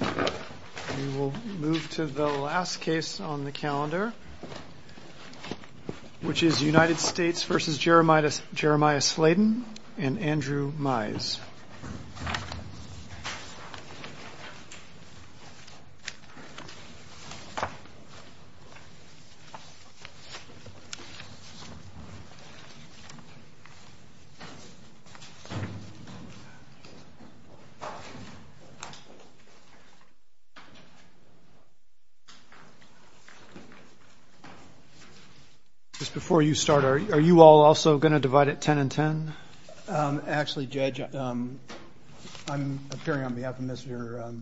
We will move to the last case on the calendar, which is United States v. Jeremiah Slayden and Andrew Mize. Are you all also going to divide it 10 and 10? Actually, Judge, I'm appearing on behalf of Mr.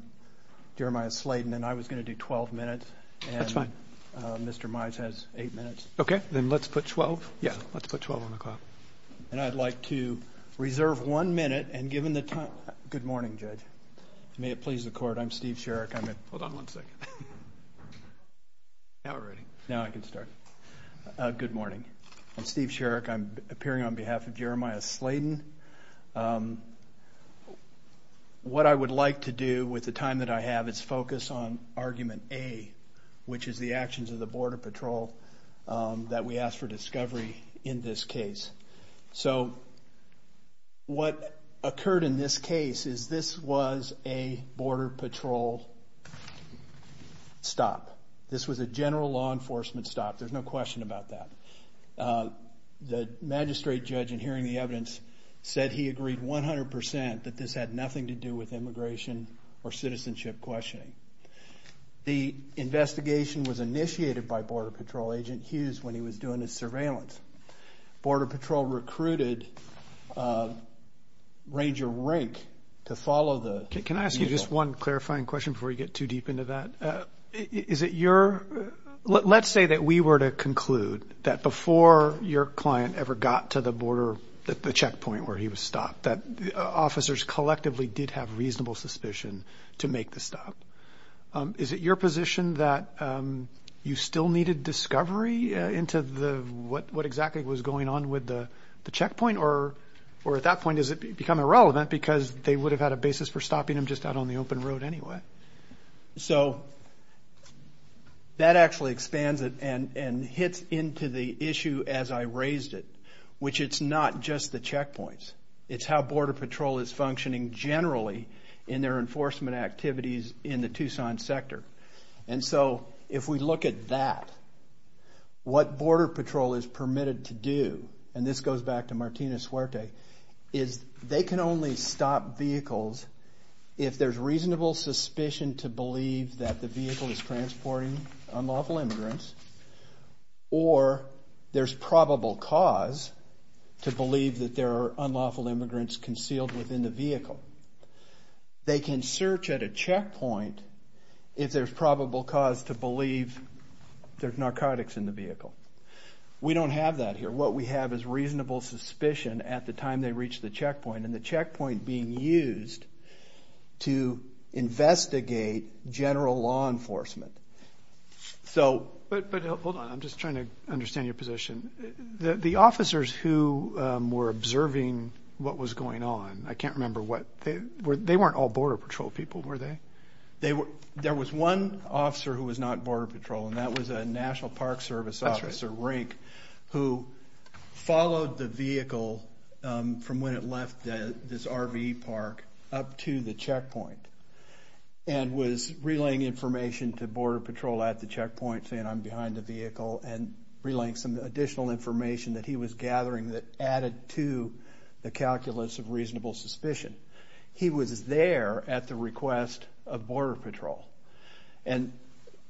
Jeremiah Slayden, and I was going to do 12 minutes. That's fine. Mr. Mize has eight minutes. Okay, then let's put 12. Yes, let's put 12 on the clock. And I'd like to reserve one minute, and given the time – good morning, Judge. May it please the Court, I'm Steve Sherrick. Hold on one second. Now we're ready. Now I can start. Good morning. I'm Steve Sherrick. I'm appearing on behalf of Jeremiah Slayden. What I would like to do with the time that I have is focus on argument A, which is the actions of the Border Patrol that we asked for discovery in this case. So what occurred in this case is this was a Border Patrol stop. This was a general law enforcement stop. There's no question about that. The magistrate judge, in hearing the evidence, said he agreed 100% that this had nothing to do with immigration or citizenship questioning. The investigation was initiated by Border Patrol Agent Hughes when he was doing his surveillance. Border Patrol recruited Ranger Rank to follow the vehicle. Can I ask you just one clarifying question before you get too deep into that? Is it your – let's say that we were to conclude that before your client ever got to the border, the checkpoint where he was stopped, that officers collectively did have reasonable suspicion to make the stop, is it your position that you still needed discovery into what exactly was going on with the checkpoint, or at that point does it become irrelevant because they would have had a basis for stopping him just out on the open road anyway? So that actually expands it and hits into the issue as I raised it, which it's not just the checkpoints. It's how Border Patrol is functioning generally in their enforcement activities in the Tucson sector. And so if we look at that, what Border Patrol is permitted to do, and this goes back to Martina Suerte, is they can only stop vehicles if there's reasonable suspicion to believe that the vehicle is transporting unlawful immigrants or there's probable cause to believe that there are unlawful immigrants concealed within the vehicle. They can search at a checkpoint if there's probable cause to believe there's narcotics in the vehicle. We don't have that here. What we have is reasonable suspicion at the time they reach the checkpoint, and the checkpoint being used to investigate general law enforcement. But hold on. I'm just trying to understand your position. The officers who were observing what was going on, I can't remember what. They weren't all Border Patrol people, were they? There was one officer who was not Border Patrol, and that was a National Park Service officer, Rink, who followed the vehicle from when it left this RV park up to the checkpoint and was relaying information to Border Patrol at the checkpoint, saying, I'm behind the vehicle, and relaying some additional information that he was gathering that added to the calculus of reasonable suspicion. He was there at the request of Border Patrol. And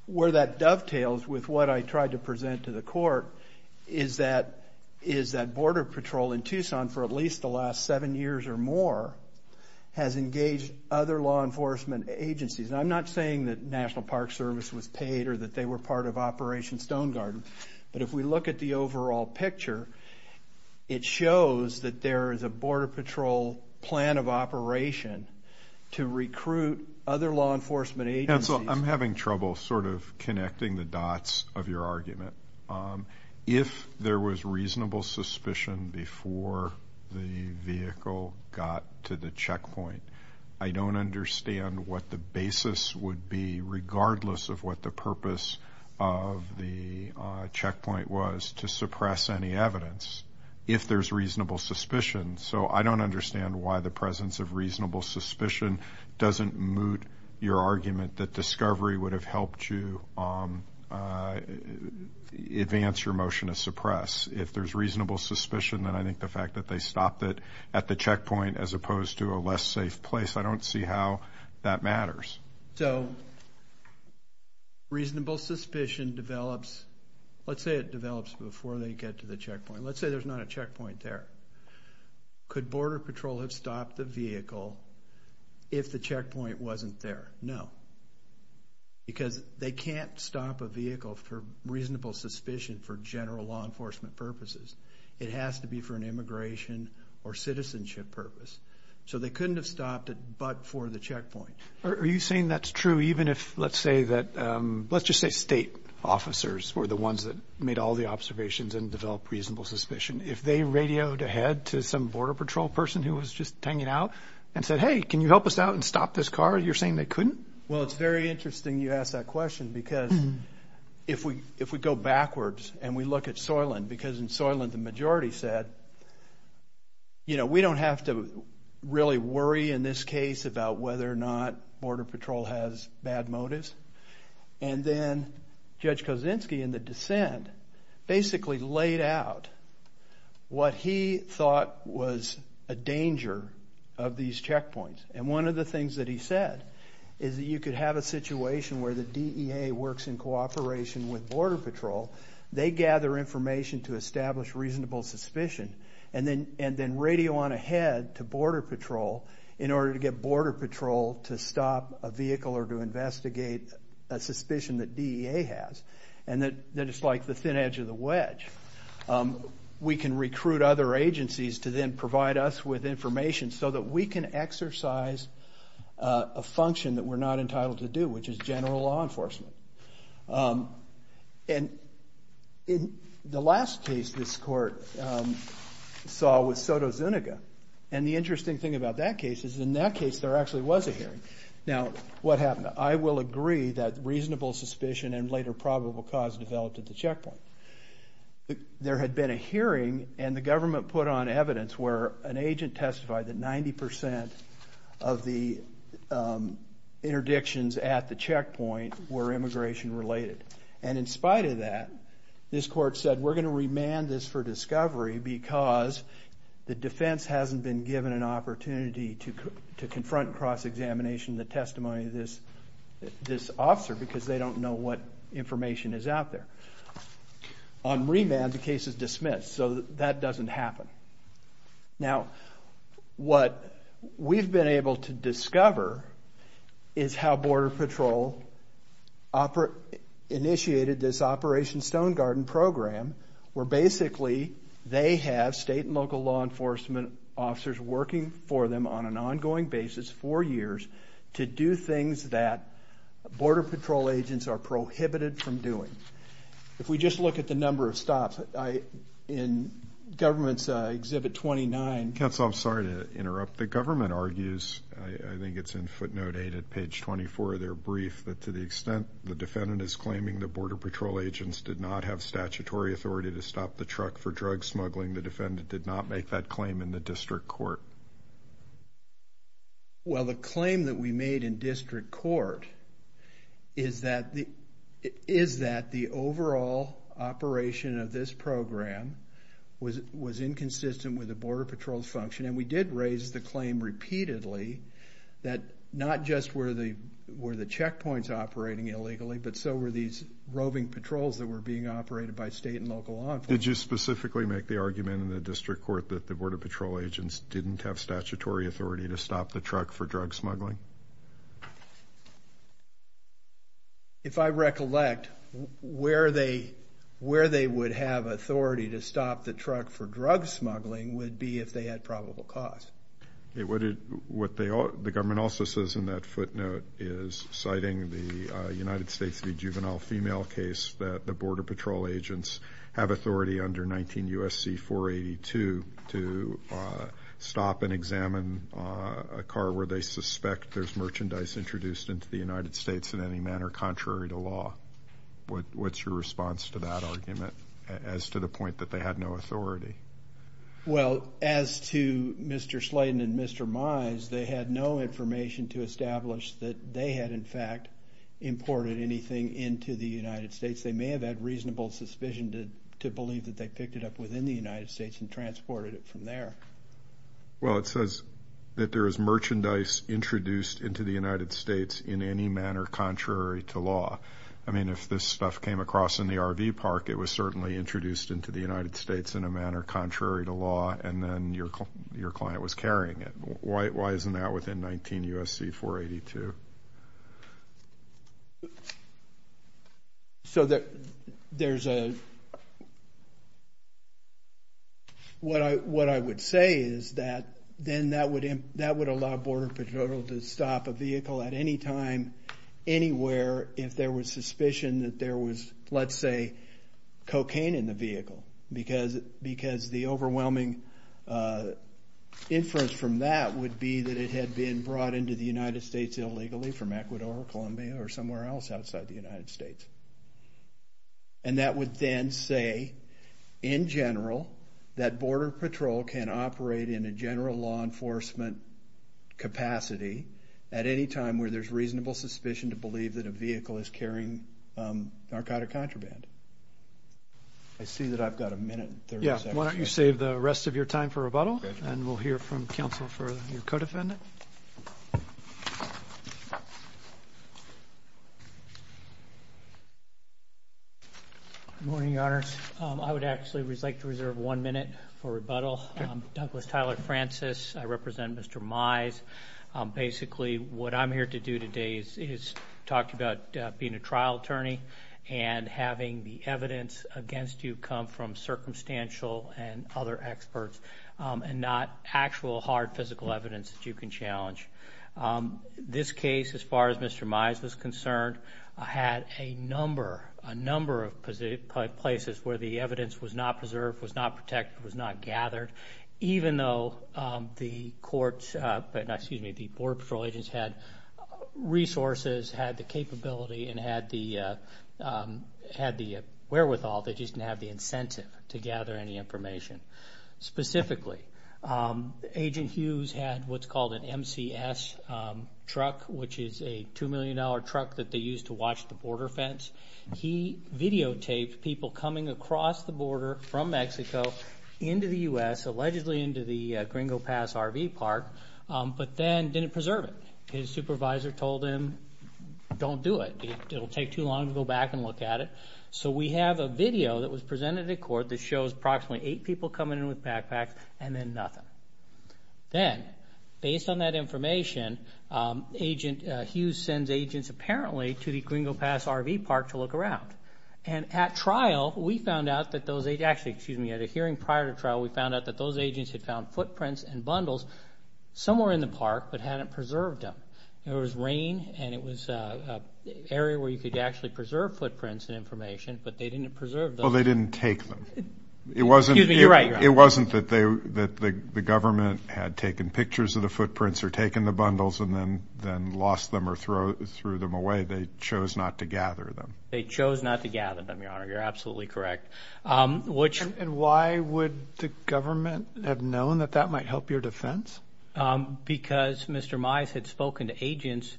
where that dovetails with what I tried to present to the court is that Border Patrol in Tucson for at least the last seven years or more has engaged other law enforcement agencies. I'm not saying that National Park Service was paid or that they were part of Operation Stone Garden, but if we look at the overall picture, it shows that there is a Border Patrol plan of operation to recruit other law enforcement agencies. I'm having trouble sort of connecting the dots of your argument. If there was reasonable suspicion before the vehicle got to the checkpoint, I don't understand what the basis would be, regardless of what the purpose of the checkpoint was, to suppress any evidence if there's reasonable suspicion. So I don't understand why the presence of reasonable suspicion doesn't moot your argument that discovery would have helped you advance your motion to suppress. If there's reasonable suspicion, then I think the fact that they stopped it at the checkpoint, as opposed to a less safe place, I don't see how that matters. So reasonable suspicion develops. Let's say it develops before they get to the checkpoint. Let's say there's not a checkpoint there. Could Border Patrol have stopped the vehicle if the checkpoint wasn't there? No, because they can't stop a vehicle for reasonable suspicion for general law enforcement purposes. It has to be for an immigration or citizenship purpose. So they couldn't have stopped it but for the checkpoint. Are you saying that's true even if, let's just say state officers were the ones that made all the observations and developed reasonable suspicion? If they radioed ahead to some Border Patrol person who was just hanging out and said, hey, can you help us out and stop this car, you're saying they couldn't? Well, it's very interesting you ask that question because if we go backwards and we look at Soylent because in Soylent the majority said, you know, we don't have to really worry in this case about whether or not Border Patrol has bad motives. And then Judge Kosinski in the dissent basically laid out what he thought was a danger of these checkpoints. And one of the things that he said is that you could have a situation where the DEA works in cooperation with Border Patrol, they gather information to establish reasonable suspicion and then radio on ahead to Border Patrol in order to get Border Patrol to stop a vehicle or to investigate a suspicion that DEA has and that it's like the thin edge of the wedge. We can recruit other agencies to then provide us with information so that we can exercise a function that we're not entitled to do, which is general law enforcement. And in the last case this court saw was Soto Zuniga. And the interesting thing about that case is in that case there actually was a hearing. Now, what happened? I will agree that reasonable suspicion and later probable cause developed at the checkpoint. There had been a hearing and the government put on evidence where an agent testified that 90 percent of the interdictions at the checkpoint were immigration related. And in spite of that, this court said we're going to remand this for discovery because the defense hasn't been given an opportunity to confront cross-examination the testimony of this officer because they don't know what information is out there. On remand, the case is dismissed. So that doesn't happen. Now, what we've been able to discover is how Border Patrol initiated this Operation Stone Garden program where basically they have state and local law enforcement officers working for them on an ongoing basis for years to do things that Border Patrol agents are prohibited from doing. If we just look at the number of stops in government's Exhibit 29. Counsel, I'm sorry to interrupt. The government argues, I think it's in footnote 8 at page 24 of their brief, that to the extent the defendant is claiming that Border Patrol agents did not have statutory authority to stop the truck for drug smuggling, the defendant did not make that claim in the district court. Well, the claim that we made in district court is that the overall operation of this program was inconsistent with the Border Patrol's function. And we did raise the claim repeatedly that not just were the checkpoints operating illegally, but so were these roving patrols that were being operated by state and local law enforcement. Did you specifically make the argument in the district court that the Border Patrol agents didn't have statutory authority to stop the truck for drug smuggling? If I recollect, where they would have authority to stop the truck for drug smuggling would be if they had probable cause. What the government also says in that footnote is, citing the United States v. Juvenile Female case, that the Border Patrol agents have authority under 19 U.S.C. 482 to stop and examine a car where they suspect there's merchandise introduced into the United States in any manner contrary to law. What's your response to that argument as to the point that they had no authority? Well, as to Mr. Slayton and Mr. Mize, they had no information to establish that they had, in fact, imported anything into the United States. They may have had reasonable suspicion to believe that they picked it up within the United States and transported it from there. Well, it says that there is merchandise introduced into the United States in any manner contrary to law. I mean, if this stuff came across in the RV park, it was certainly introduced into the United States in a manner contrary to law, and then your client was carrying it. Why isn't that within 19 U.S.C. 482? So there's a – what I would say is that then that would allow Border Patrol to stop a vehicle at any time, anywhere, if there was suspicion that there was, let's say, cocaine in the vehicle, because the overwhelming inference from that would be that it had been brought into the United States illegally from Ecuador, Colombia, or somewhere else outside the United States. And that would then say, in general, that Border Patrol can operate in a general law enforcement capacity at any time where there's reasonable suspicion to believe that a vehicle is carrying narcotic contraband. I see that I've got a minute and 30 seconds. Yeah. Why don't you save the rest of your time for rebuttal, and we'll hear from counsel for your co-defendant. Good morning, Your Honors. I would actually like to reserve one minute for rebuttal. I'm Douglas Tyler Francis. I represent Mr. Mize. Basically, what I'm here to do today is talk about being a trial attorney and having the evidence against you come from circumstantial and other experts and not actual hard physical evidence that you can challenge. This case, as far as Mr. Mize was concerned, had a number of places where the evidence was not preserved, was not protected, was not gathered, even though the Border Patrol agents had resources, had the capability, and had the wherewithal, they just didn't have the incentive to gather any information. Specifically, Agent Hughes had what's called an MCS truck, which is a $2 million truck that they use to watch the border fence. He videotaped people coming across the border from Mexico into the U.S., allegedly into the Gringo Pass RV park, but then didn't preserve it. His supervisor told him, don't do it. It will take too long to go back and look at it. So we have a video that was presented at court that shows approximately eight people coming in with backpacks and then nothing. Then, based on that information, Agent Hughes sends agents apparently to the Gringo Pass RV park to look around. And at trial, we found out that those agents, actually, excuse me, at a hearing prior to trial, we found out that those agents had found footprints and bundles somewhere in the park but hadn't preserved them. There was rain and it was an area where you could actually preserve footprints and information, but they didn't preserve them. Well, they didn't take them. Excuse me, you're right. It wasn't that the government had taken pictures of the footprints or taken the bundles and then lost them or threw them away. They chose not to gather them. They chose not to gather them, Your Honor. You're absolutely correct. And why would the government have known that that might help your defense? Because Mr. Mize had spoken to agents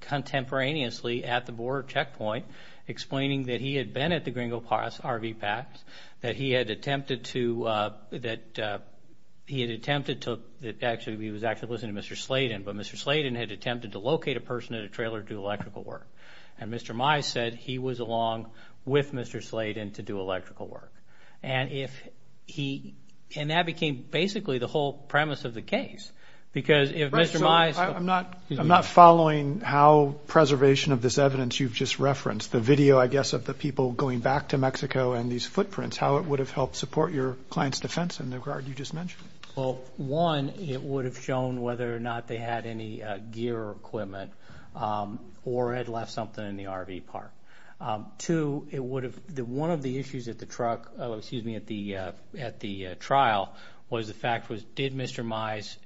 contemporaneously at the border checkpoint, explaining that he had been at the Gringo Pass RV park, that he had attempted to, that he had attempted to, actually, he was actually listening to Mr. Slayton, but Mr. Slayton had attempted to locate a person in a trailer to do electrical work. And Mr. Mize said he was along with Mr. Slayton to do electrical work. And if he, and that became basically the whole premise of the case because if Mr. Mize. I'm not following how preservation of this evidence you've just referenced. The video, I guess, of the people going back to Mexico and these footprints, how it would have helped support your client's defense in the regard you just mentioned. Well, one, it would have shown whether or not they had any gear or equipment or had left something in the RV park. Two, it would have, one of the issues at the trial was the fact was did Mr. Mize,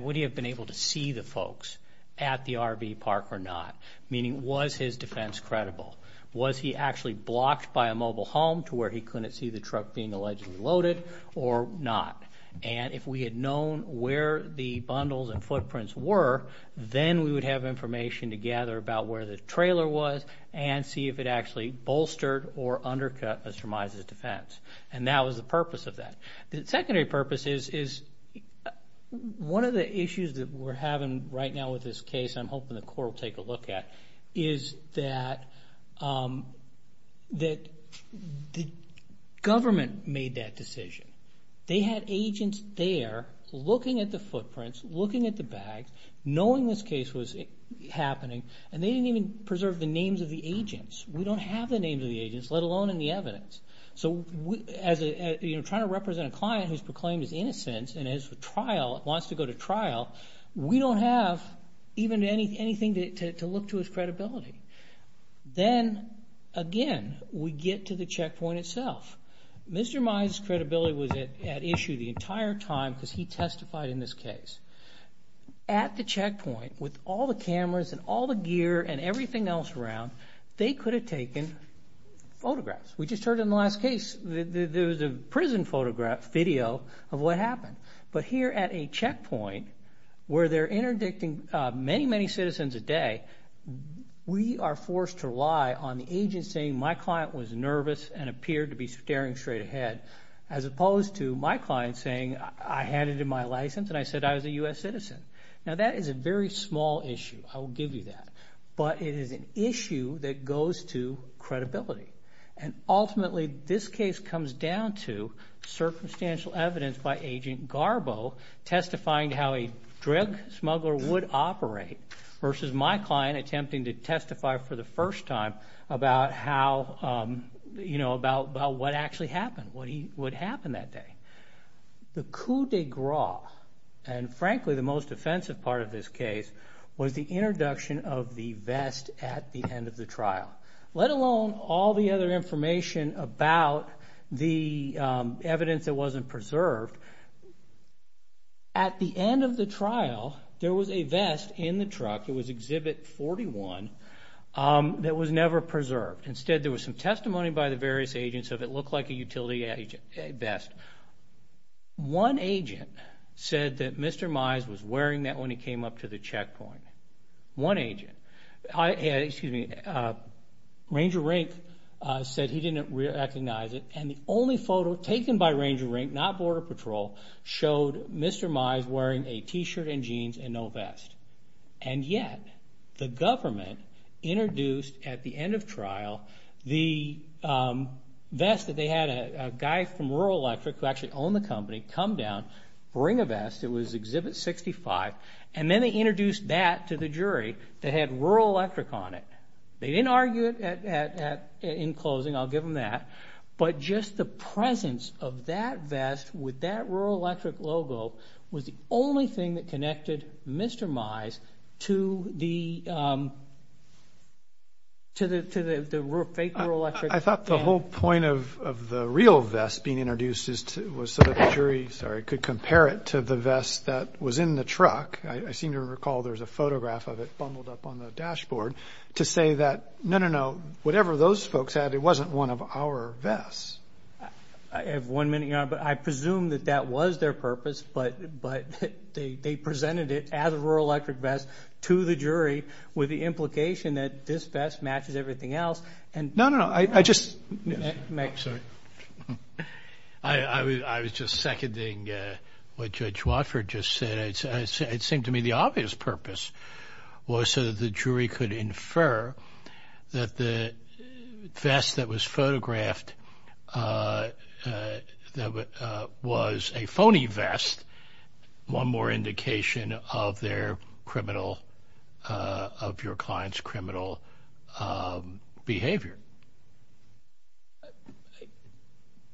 would he have been able to see the folks at the RV park or not? Meaning, was his defense credible? Was he actually blocked by a mobile home to where he couldn't see the truck being allegedly loaded or not? And if we had known where the bundles and footprints were, then we would have information to gather about where the trailer was and see if it actually bolstered or undercut Mr. Mize's defense. And that was the purpose of that. The secondary purpose is one of the issues that we're having right now with this case, and I'm hoping the court will take a look at, is that the government made that decision. They had agents there looking at the footprints, looking at the bags, knowing this case was happening, and they didn't even preserve the names of the agents. We don't have the names of the agents, let alone any evidence. So trying to represent a client who's proclaimed his innocence and wants to go to trial, we don't have even anything to look to as credibility. Then, again, we get to the checkpoint itself. Mr. Mize's credibility was at issue the entire time because he testified in this case. At the checkpoint, with all the cameras and all the gear and everything else around, they could have taken photographs. We just heard in the last case there was a prison photograph, video of what happened. But here at a checkpoint where they're interdicting many, many citizens a day, we are forced to rely on the agent saying my client was nervous and appeared to be staring straight ahead as opposed to my client saying I handed him my license and I said I was a U.S. citizen. Now that is a very small issue, I will give you that, but it is an issue that goes to credibility. And ultimately this case comes down to circumstantial evidence by Agent Garbo testifying how a drug smuggler would operate versus my client attempting to testify for the first time about what actually happened, what happened that day. The coup de grace, and frankly the most offensive part of this case, was the introduction of the vest at the end of the trial, let alone all the other information about the evidence that wasn't preserved. At the end of the trial there was a vest in the truck, it was Exhibit 41, that was never preserved. Instead there was some testimony by the various agents of it looked like a utility vest. One agent said that Mr. Mize was wearing that when he came up to the checkpoint. One agent, excuse me, Ranger Rink said he didn't recognize it, and the only photo taken by Ranger Rink, not Border Patrol, showed Mr. Mize wearing a T-shirt and jeans and no vest. And yet the government introduced at the end of trial the vest that they had a guy from Rural Electric who actually owned the company come down, bring a vest, it was Exhibit 65, and then they introduced that to the jury that had Rural Electric on it. They didn't argue it in closing, I'll give them that, but just the presence of that vest with that Rural Electric logo was the only thing that connected Mr. Mize to the fake Rural Electric. I thought the whole point of the real vest being introduced was so that the jury, sorry, could compare it to the vest that was in the truck. I seem to recall there's a photograph of it bundled up on the dashboard to say that, no, no, no, whatever those folks had, it wasn't one of our vests. I have one minute, Your Honor, but I presume that that was their purpose, but they presented it as a Rural Electric vest to the jury with the implication that this vest matches everything else. No, no, no. Sorry. I was just seconding what Judge Watford just said. It seemed to me the obvious purpose was so that the jury could infer that the vest that was photographed was a phony vest, one more indication of their criminal, of your client's criminal behavior.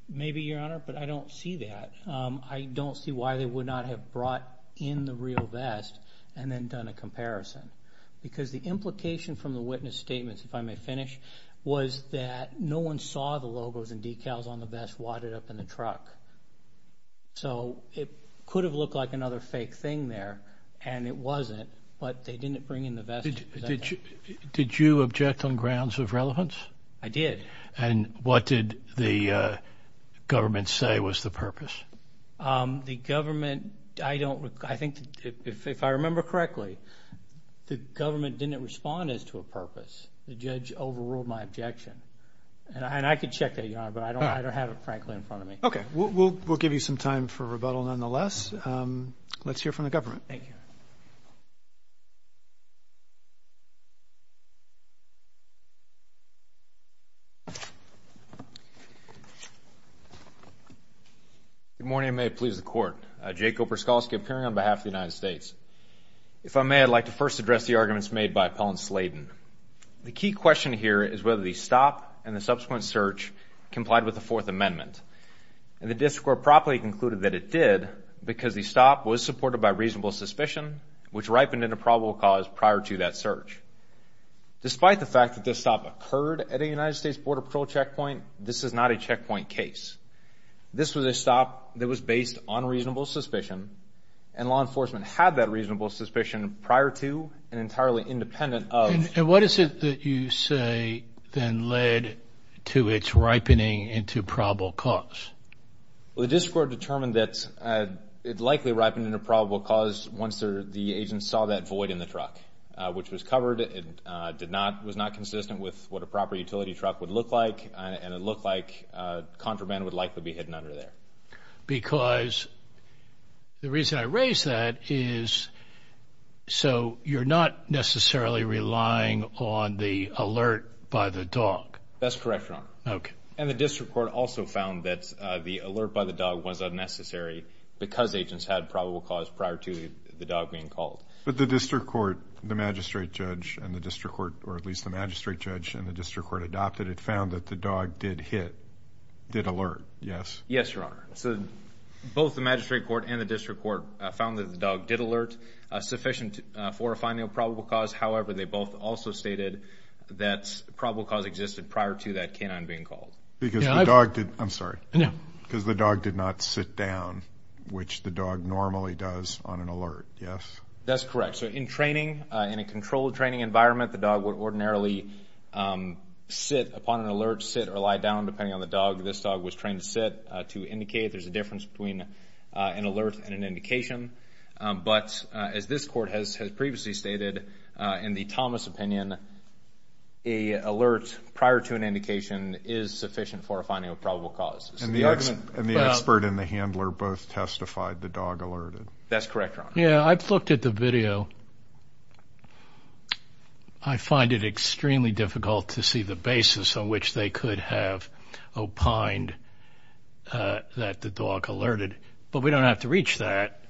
Maybe, Your Honor, but I don't see that. I don't see why they would not have brought in the real vest and then done a comparison because the implication from the witness statements, if I may finish, was that no one saw the logos and decals on the vest wadded up in the truck. So it could have looked like another fake thing there, and it wasn't, but they didn't bring in the vest. Did you object on grounds of relevance? I did. And what did the government say was the purpose? The government, I think, if I remember correctly, the government didn't respond as to a purpose. The judge overruled my objection. And I could check that, Your Honor, but I don't have it, frankly, in front of me. Okay. We'll give you some time for rebuttal nonetheless. Let's hear from the government. Thank you. Good morning, and may it please the Court. Jay Koperskowski appearing on behalf of the United States. If I may, I'd like to first address the arguments made by Appellant Sladen. The key question here is whether the stop and the subsequent search complied with the Fourth Amendment. And the district court properly concluded that it did because the stop was supported by reasonable suspicion, which ripened into probable cause prior to that search. Despite the fact that this stop occurred at a United States Border Patrol checkpoint, this is not a checkpoint case. This was a stop that was based on reasonable suspicion, and law enforcement had that reasonable suspicion prior to and entirely independent of. And what is it that you say then led to its ripening into probable cause? Well, the district court determined that it likely ripened into probable cause once the agent saw that void in the truck, which was covered and was not consistent with what a proper utility truck would look like, and it looked like contraband would likely be hidden under there. Because the reason I raise that is so you're not necessarily relying on the alert by the dog. That's correct, Your Honor. Okay. And the district court also found that the alert by the dog was unnecessary because agents had probable cause prior to the dog being called. But the district court, the magistrate judge and the district court, or at least the magistrate judge and the district court adopted it, found that the dog did hit, did alert, yes? Yes, Your Honor. So both the magistrate court and the district court found that the dog did alert sufficient for finding a probable cause. However, they both also stated that probable cause existed prior to that canine being called. I'm sorry. No. Because the dog did not sit down, which the dog normally does on an alert, yes? That's correct. So in training, in a controlled training environment, the dog would ordinarily sit upon an alert, sit or lie down depending on the dog. This dog was trained to sit, to indicate there's a difference between an alert and an indication. But as this court has previously stated, in the Thomas opinion, an alert prior to an indication is sufficient for finding a probable cause. And the expert and the handler both testified the dog alerted. That's correct, Your Honor. Yeah, I've looked at the video. I find it extremely difficult to see the basis on which they could have opined that the dog alerted. But we don't have to reach that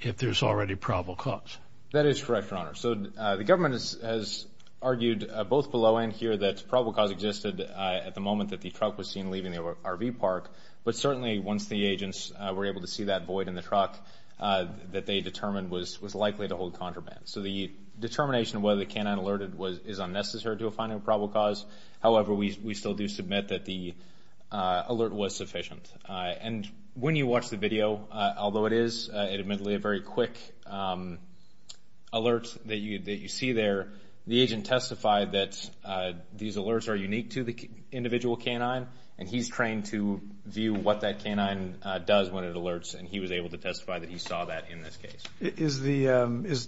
if there's already probable cause. That is correct, Your Honor. So the government has argued both below and here that probable cause existed at the moment that the truck was seen leaving the RV park. But certainly once the agents were able to see that void in the truck that they determined was likely to hold contraband. So the determination of whether the canine alerted is unnecessary to a finding of probable cause. However, we still do submit that the alert was sufficient. And when you watch the video, although it is admittedly a very quick alert that you see there, the agent testified that these alerts are unique to the individual canine, and he's trained to view what that canine does when it alerts. And he was able to testify that he saw that in this case.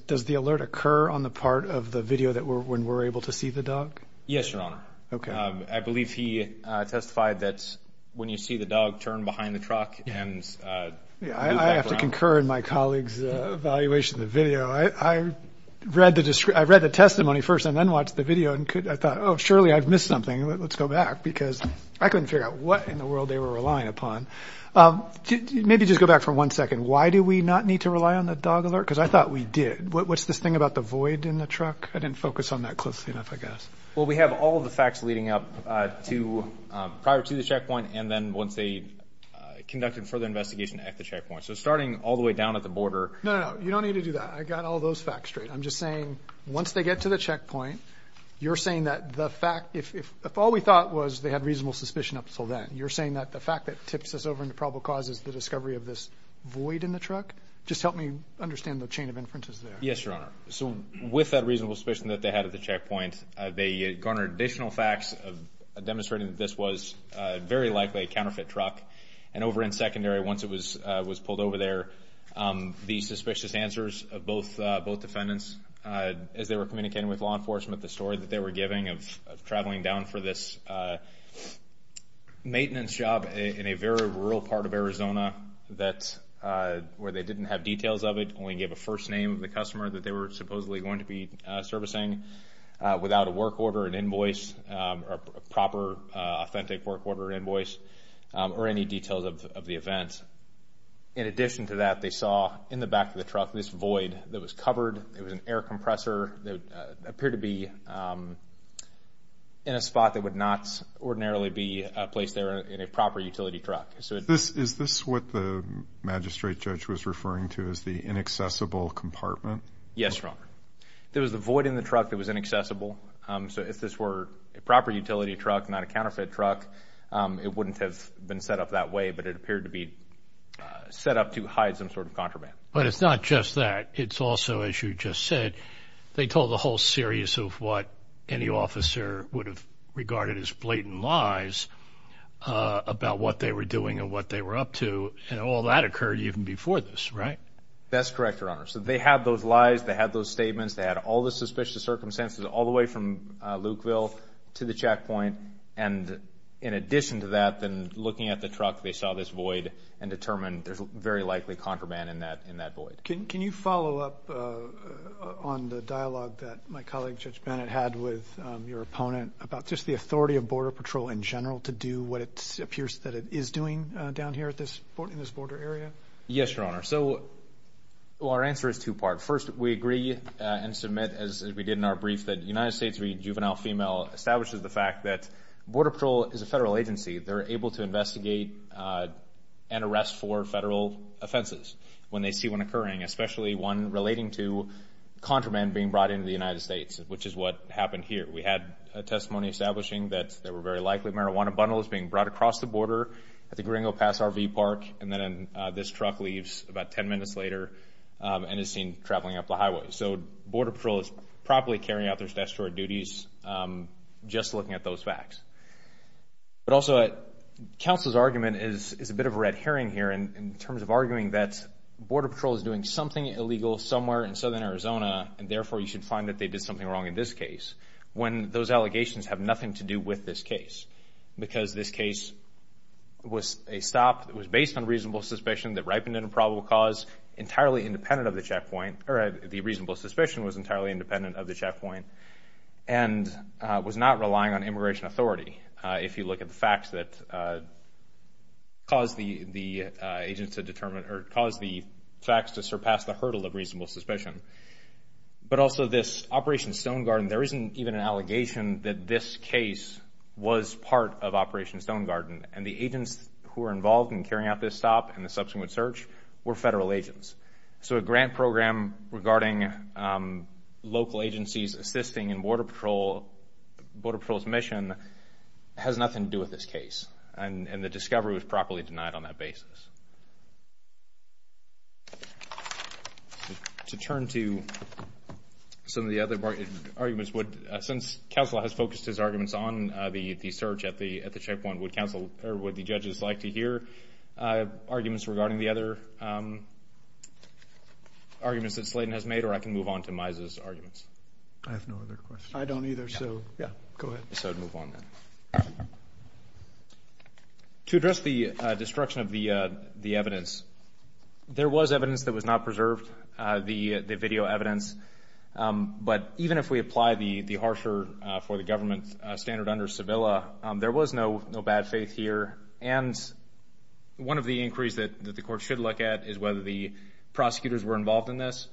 Does the alert occur on the part of the video when we're able to see the dog? Yes, Your Honor. Okay. I believe he testified that when you see the dog turn behind the truck and move back around. I have to concur in my colleague's evaluation of the video. I read the testimony first and then watched the video and I thought, oh, surely I've missed something. Let's go back because I couldn't figure out what in the world they were relying upon. Maybe just go back for one second. Why do we not need to rely on the dog alert? Because I thought we did. What's this thing about the void in the truck? I didn't focus on that closely enough, I guess. Well, we have all of the facts leading up to prior to the checkpoint and then once they conducted further investigation at the checkpoint. So starting all the way down at the border. No, no, no. You don't need to do that. I got all those facts straight. I'm just saying once they get to the checkpoint, you're saying that the fact, if all we thought was they had reasonable suspicion up until then, you're saying that the fact that tips us over into probable cause is the discovery of this void in the truck? Just help me understand the chain of inferences there. Yes, Your Honor. So with that reasonable suspicion that they had at the checkpoint, they garnered additional facts demonstrating that this was very likely a counterfeit truck. And over in secondary, once it was pulled over there, the suspicious answers of both defendants as they were communicating with law enforcement, the story that they were giving of traveling down for this maintenance job in a very rural part of Arizona where they didn't have details of it, only gave a first name of the customer that they were supposedly going to be servicing without a work order, an invoice, a proper authentic work order, an invoice, or any details of the event. In addition to that, they saw in the back of the truck this void that was covered. It was an air compressor that appeared to be in a spot that would not ordinarily be placed there in a proper utility truck. Is this what the magistrate judge was referring to as the inaccessible compartment? Yes, Your Honor. There was a void in the truck that was inaccessible. So if this were a proper utility truck, not a counterfeit truck, it wouldn't have been set up that way, but it appeared to be set up to hide some sort of contraband. But it's not just that. It's also, as you just said, they told the whole series of what any officer would have regarded as blatant lies about what they were doing and what they were up to, and all that occurred even before this, right? That's correct, Your Honor. So they had those lies. They had those statements. They had all the suspicious circumstances all the way from Lukeville to the checkpoint. And in addition to that, then looking at the truck, they saw this void and determined there's very likely contraband in that void. Can you follow up on the dialogue that my colleague Judge Bennett had with your opponent about just the authority of Border Patrol in general to do what it appears that it is doing down here in this border area? Yes, Your Honor. So our answer is two-part. First, we agree and submit, as we did in our brief, that the United States Juvenile Female establishes the fact that Border Patrol is a federal agency. They're able to investigate and arrest for federal offenses when they see one occurring, especially one relating to contraband being brought into the United States, which is what happened here. We had a testimony establishing that there were very likely marijuana bundles being brought across the border at the Gringo Pass RV Park, and then this truck leaves about ten minutes later and is seen traveling up the highway. So Border Patrol is probably carrying out their statutory duties just looking at those facts. But also, counsel's argument is a bit of a red herring here in terms of arguing that Border Patrol is doing something illegal somewhere in southern Arizona, and therefore you should find that they did something wrong in this case, when those allegations have nothing to do with this case, because this case was a stop that was based on reasonable suspicion that ripened in a probable cause, entirely independent of the checkpoint, or the reasonable suspicion was entirely independent of the checkpoint, and was not relying on immigration authority if you look at the facts that caused the facts to surpass the hurdle of reasonable suspicion. But also this Operation Stone Garden, there isn't even an allegation that this case was part of Operation Stone Garden, and the agents who were involved in carrying out this stop and the subsequent search were federal agents. So a grant program regarding local agencies assisting in Border Patrol's mission has nothing to do with this case, and the discovery was properly denied on that basis. To turn to some of the other arguments, since counsel has focused his arguments on the search at the checkpoint, would the judges like to hear arguments regarding the other arguments that Slayton has made, or I can move on to Myza's arguments? I have no other questions. I don't either, so go ahead. So I'd move on then. To address the destruction of the evidence, there was evidence that was not preserved, the video evidence, but even if we apply the harsher-for-the-government standard under Sevilla, there was no bad faith here. And one of the inquiries that the court should look at is whether the prosecutors were involved in this.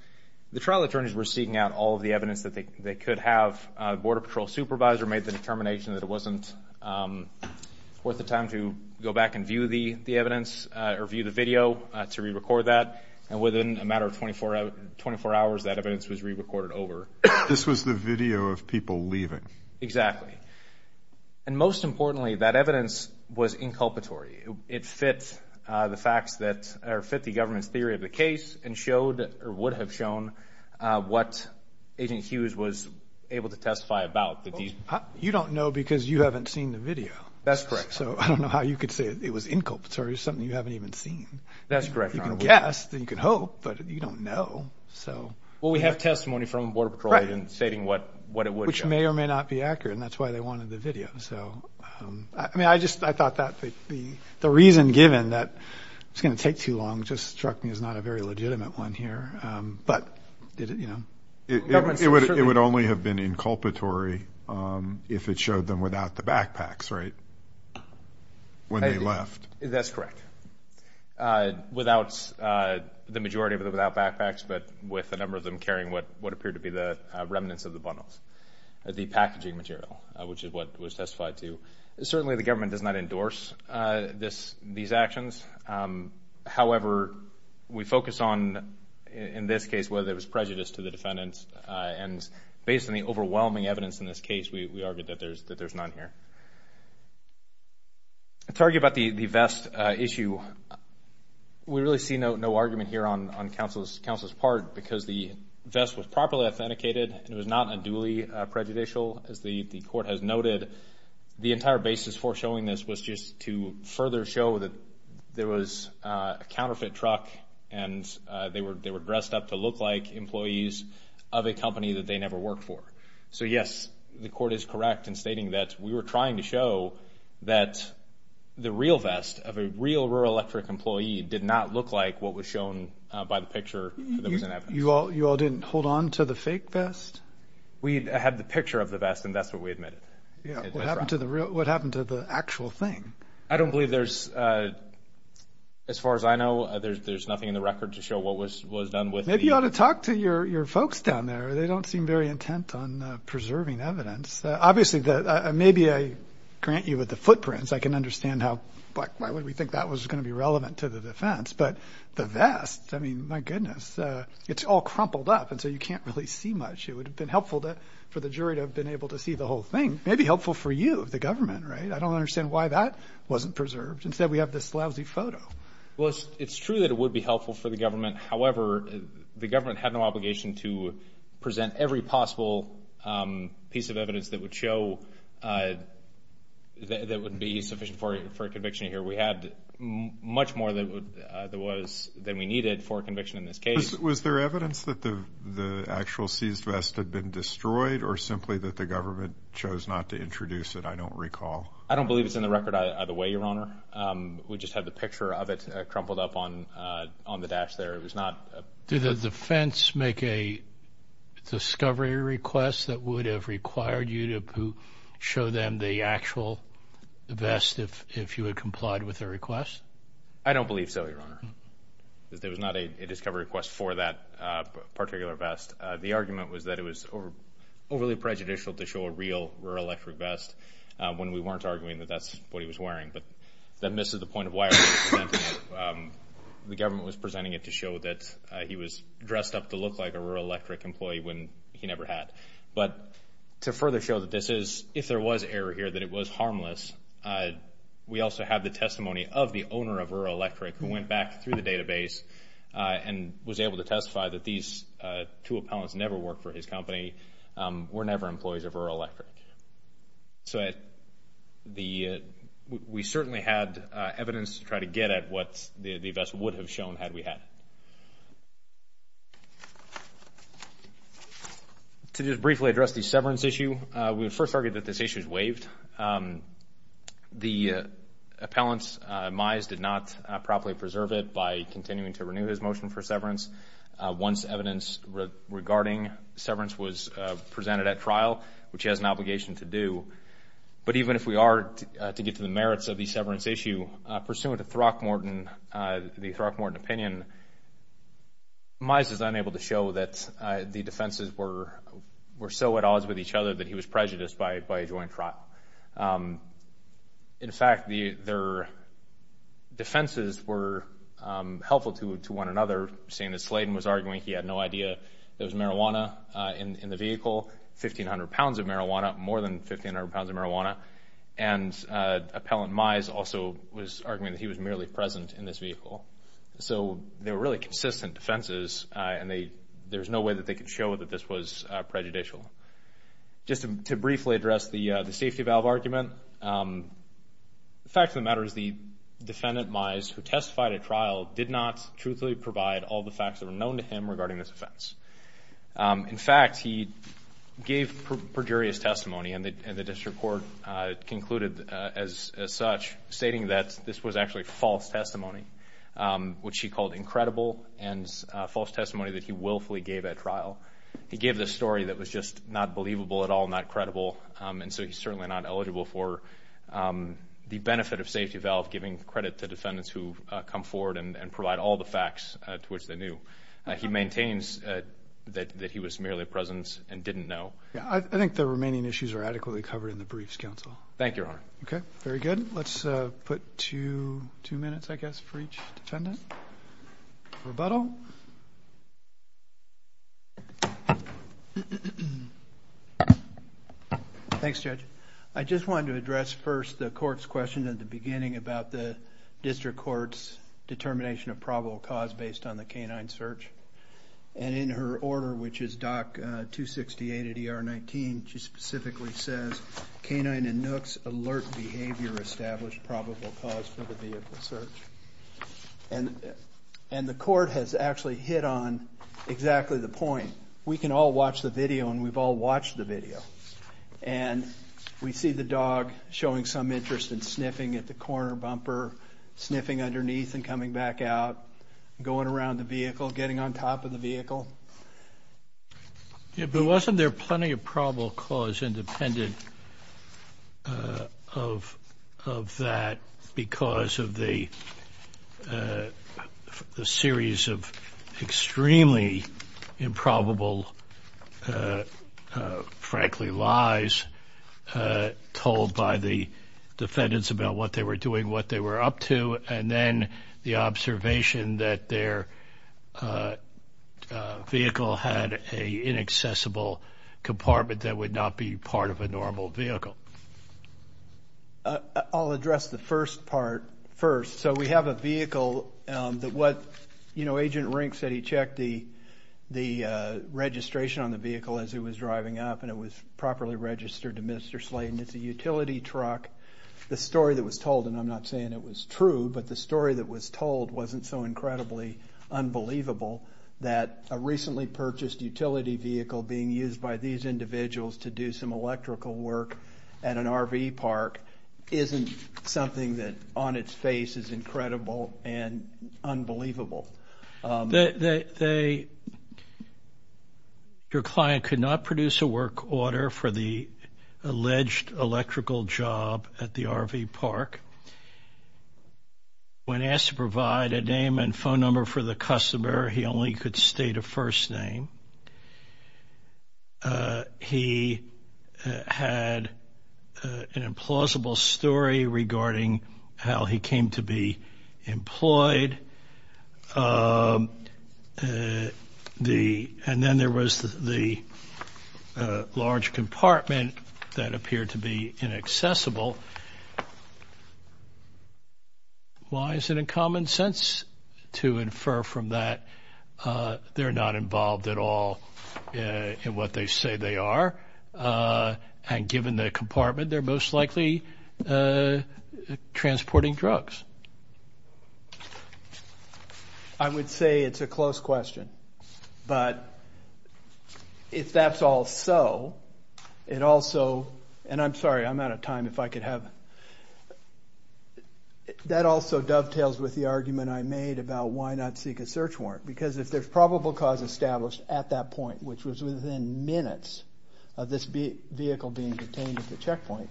The trial attorneys were seeking out all of the evidence that they could have. The Border Patrol supervisor made the determination that it wasn't worth the time to go back and view the evidence or view the video to re-record that. And within a matter of 24 hours, that evidence was re-recorded over. This was the video of people leaving. Exactly. And most importantly, that evidence was inculpatory. It fit the facts that fit the government's theory of the case and would have shown what Agent Hughes was able to testify about. You don't know because you haven't seen the video. That's correct. So I don't know how you could say it was inculpatory, something you haven't even seen. That's correct, Your Honor. You can guess. You can hope. But you don't know. Well, we have testimony from a Border Patrol agent stating what it would show. Which may or may not be accurate, and that's why they wanted the video. I mean, I just thought that the reason given that it's going to take too long just struck me as not a very legitimate one here. It would only have been inculpatory if it showed them without the backpacks, right, when they left. That's correct. Without the majority of them without backpacks, but with a number of them carrying what appeared to be the remnants of the bundles, the packaging material, which is what was testified to. Certainly the government does not endorse these actions. However, we focus on, in this case, whether it was prejudice to the defendants. And based on the overwhelming evidence in this case, we argue that there's none here. To argue about the vest issue, we really see no argument here on counsel's part because the vest was properly authenticated, and it was not unduly prejudicial. As the court has noted, the entire basis for showing this was just to further show that there was a counterfeit truck, and they were dressed up to look like employees of a company that they never worked for. So, yes, the court is correct in stating that we were trying to show that the real vest of a real Rural Electric employee did not look like what was shown by the picture. You all didn't hold on to the fake vest? We had the picture of the vest, and that's what we admitted. What happened to the actual thing? I don't believe there's, as far as I know, there's nothing in the record to show what was done with it. Maybe you ought to talk to your folks down there. They don't seem very intent on preserving evidence. Obviously, maybe I grant you with the footprints. I can understand how why would we think that was going to be relevant to the defense. But the vest, I mean, my goodness, it's all crumpled up, and so you can't really see much. It would have been helpful for the jury to have been able to see the whole thing. It may be helpful for you, the government, right? I don't understand why that wasn't preserved. Instead, we have this lousy photo. Well, it's true that it would be helpful for the government. However, the government had no obligation to present every possible piece of evidence that would show that would be sufficient for a conviction here. We had much more than we needed for a conviction in this case. Was there evidence that the actual seized vest had been destroyed or simply that the government chose not to introduce it? I don't recall. I don't believe it's in the record either way, Your Honor. We just have the picture of it crumpled up on the dash there. Did the defense make a discovery request that would have required you to show them the actual vest if you had complied with their request? I don't believe so, Your Honor. There was not a discovery request for that particular vest. The argument was that it was overly prejudicial to show a real, when we weren't arguing that that's what he was wearing. But that misses the point of why the government was presenting it to show that he was dressed up to look like a Rural Electric employee when he never had. But to further show that this is, if there was error here, that it was harmless, we also have the testimony of the owner of Rural Electric who went back through the database and was able to testify that these two appellants never worked for his company, were never employees of Rural Electric. So we certainly had evidence to try to get at what the vest would have shown had we had it. To just briefly address the severance issue, we would first argue that this issue is waived. The appellant's demise did not properly preserve it by continuing to renew his motion for severance. Once evidence regarding severance was presented at trial, which he has an obligation to do. But even if we are to get to the merits of the severance issue, pursuant to the Throckmorton opinion, Mize is unable to show that the defenses were so at odds with each other that he was prejudiced by a joint trial. In fact, their defenses were helpful to one another, seeing that Sladen was arguing he had no idea there was marijuana in the vehicle, 1,500 pounds of marijuana, more than 1,500 pounds of marijuana. And appellant Mize also was arguing that he was merely present in this vehicle. So they were really consistent defenses, and there's no way that they could show that this was prejudicial. Just to briefly address the safety valve argument, the fact of the matter is the defendant, Mize, who testified at trial, did not truthfully provide all the facts that were known to him regarding this offense. In fact, he gave perjurious testimony, and the district court concluded as such, stating that this was actually false testimony, which he called incredible and false testimony that he willfully gave at trial. He gave this story that was just not believable at all, not credible, and so he's certainly not eligible for the benefit of safety valve, giving credit to defendants who come forward and provide all the facts to which they knew. He maintains that he was merely present and didn't know. I think the remaining issues are adequately covered in the briefs, counsel. Thank you, Your Honor. Okay, very good. Let's put two minutes, I guess, for each defendant. Rebuttal. Thanks, Judge. I just wanted to address first the court's question at the beginning about the district court's determination of probable cause based on the canine search, and in her order, which is Doc 268 at ER 19, she specifically says canine and nooks alert behavior established probable cause for the vehicle search. And the court has actually hit on exactly the point. We can all watch the video, and we've all watched the video, and we see the dog showing some interest in sniffing at the corner bumper, sniffing underneath and coming back out, going around the vehicle, getting on top of the vehicle. Yeah, but wasn't there plenty of probable cause independent of that because of the series of extremely improbable, frankly, lies told by the defendants about what they were doing, what they were up to, and then the observation that their vehicle had an inaccessible compartment that would not be part of a normal vehicle? I'll address the first part first. So we have a vehicle that what, you know, Agent Rink said he checked the registration on the vehicle as he was driving up, and it was properly registered to Mr. Sladen. It's a utility truck. The story that was told, and I'm not saying it was true, but the story that was told wasn't so incredibly unbelievable that a recently purchased utility vehicle being used by these individuals to do some electrical work at an RV park isn't something that on its face is incredible and unbelievable. They, your client could not produce a work order for the alleged electrical job at the RV park. When asked to provide a name and phone number for the customer, he only could state a first name. He had an implausible story regarding how he came to be employed. And then there was the large compartment that appeared to be inaccessible. Why is it in common sense to infer from that they're not involved at all in what they say they are? And given the compartment, they're most likely transporting drugs. I would say it's a close question. But if that's all so, it also, and I'm sorry, I'm out of time if I could have, that also dovetails with the argument I made about why not seek a search warrant. Because if there's probable cause established at that point, which was within minutes of this vehicle being detained at the checkpoint,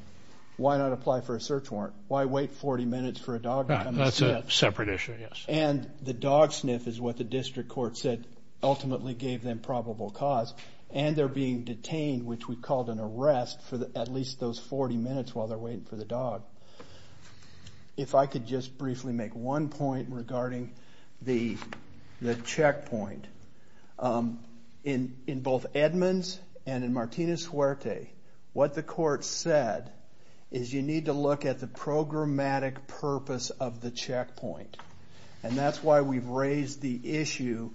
why not apply for a search warrant? Why wait 40 minutes for a dog to come and sniff? That's a separate issue, yes. And the dog sniff is what the district court said ultimately gave them probable cause. And they're being detained, which we called an arrest, for at least those 40 minutes while they're waiting for the dog. If I could just briefly make one point regarding the checkpoint. In both Edmonds and in Martinez-Suerte, what the court said is you need to look at the programmatic purpose of the checkpoint. And that's why we've raised the issue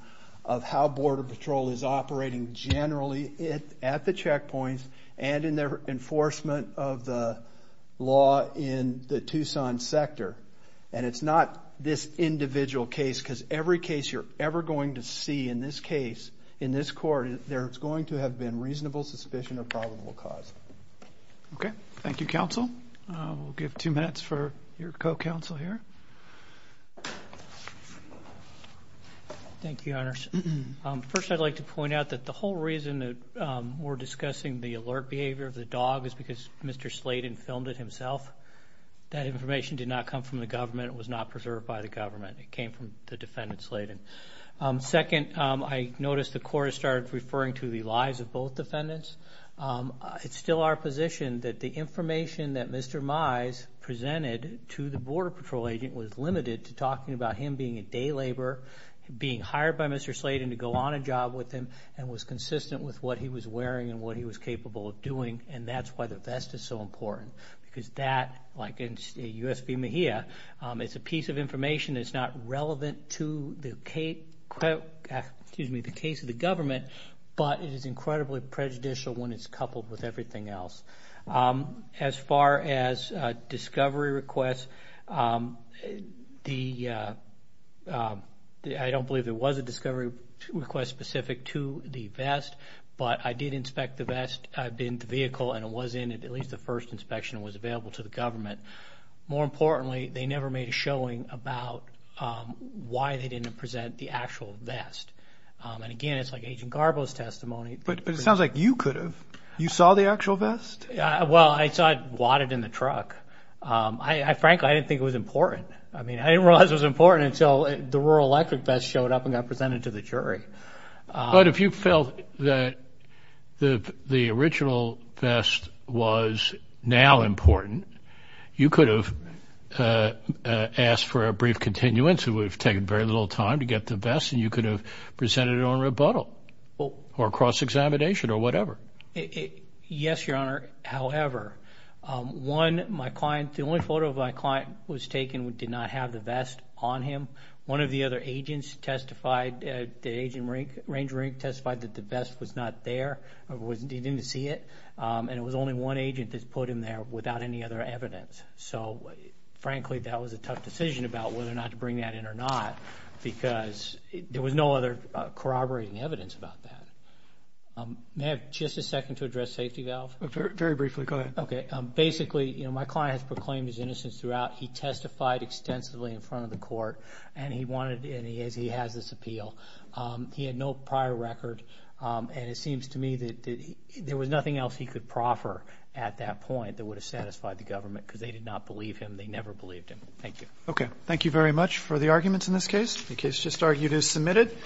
of how Border Patrol is operating generally at the checkpoints and in their enforcement of the law in the Tucson sector. And it's not this individual case, because every case you're ever going to see in this case, in this court, there's going to have been reasonable suspicion of probable cause. Okay. Thank you, counsel. We'll give two minutes for your co-counsel here. Thank you, Your Honors. First, I'd like to point out that the whole reason that we're discussing the alert behavior of the dog is because Mr. Sladen filmed it himself. That information did not come from the government. It was not preserved by the government. It came from the defendant, Sladen. Second, I noticed the court has started referring to the lives of both defendants. It's still our position that the information that Mr. Mize presented to the Border Patrol agent was limited to talking about him being at day labor, being hired by Mr. Sladen to go on a job with him, and was consistent with what he was wearing and what he was capable of doing, and that's why the vest is so important. Because that, like in U.S. v. Mejia, it's a piece of information that's not relevant to the case of the government, but it is incredibly prejudicial when it's coupled with everything else. As far as discovery requests, I don't believe there was a discovery request specific to the vest, but I did inspect the vest in the vehicle, and it was in at least the first inspection and was available to the government. More importantly, they never made a showing about why they didn't present the actual vest. Again, it's like Agent Garbo's testimony. But it sounds like you could have. You saw the actual vest? Well, I saw it wadded in the truck. Frankly, I didn't think it was important. I mean, I didn't realize it was important until the rural electric vest showed up and got presented to the jury. But if you felt that the original vest was now important, you could have asked for a brief continuance. It would have taken very little time to get the vest, and you could have presented it on rebuttal or cross-examination or whatever. Yes, Your Honor. However, one of my clients, the only photo of my client was taken, did not have the vest on him. One of the other agents testified, the agent, Ranger Rink, testified that the vest was not there. He didn't see it. And it was only one agent that put him there without any other evidence. So, frankly, that was a tough decision about whether or not to bring that in or not because there was no other corroborating evidence about that. May I have just a second to address safety valve? Very briefly. Go ahead. Okay. Basically, my client has proclaimed his innocence throughout. He testified extensively in front of the court, and he has this appeal. He had no prior record, and it seems to me that there was nothing else he could proffer at that point that would have satisfied the government because they did not believe him. They never believed him. Thank you. Okay. Thank you very much for the arguments in this case. The case just argued is submitted.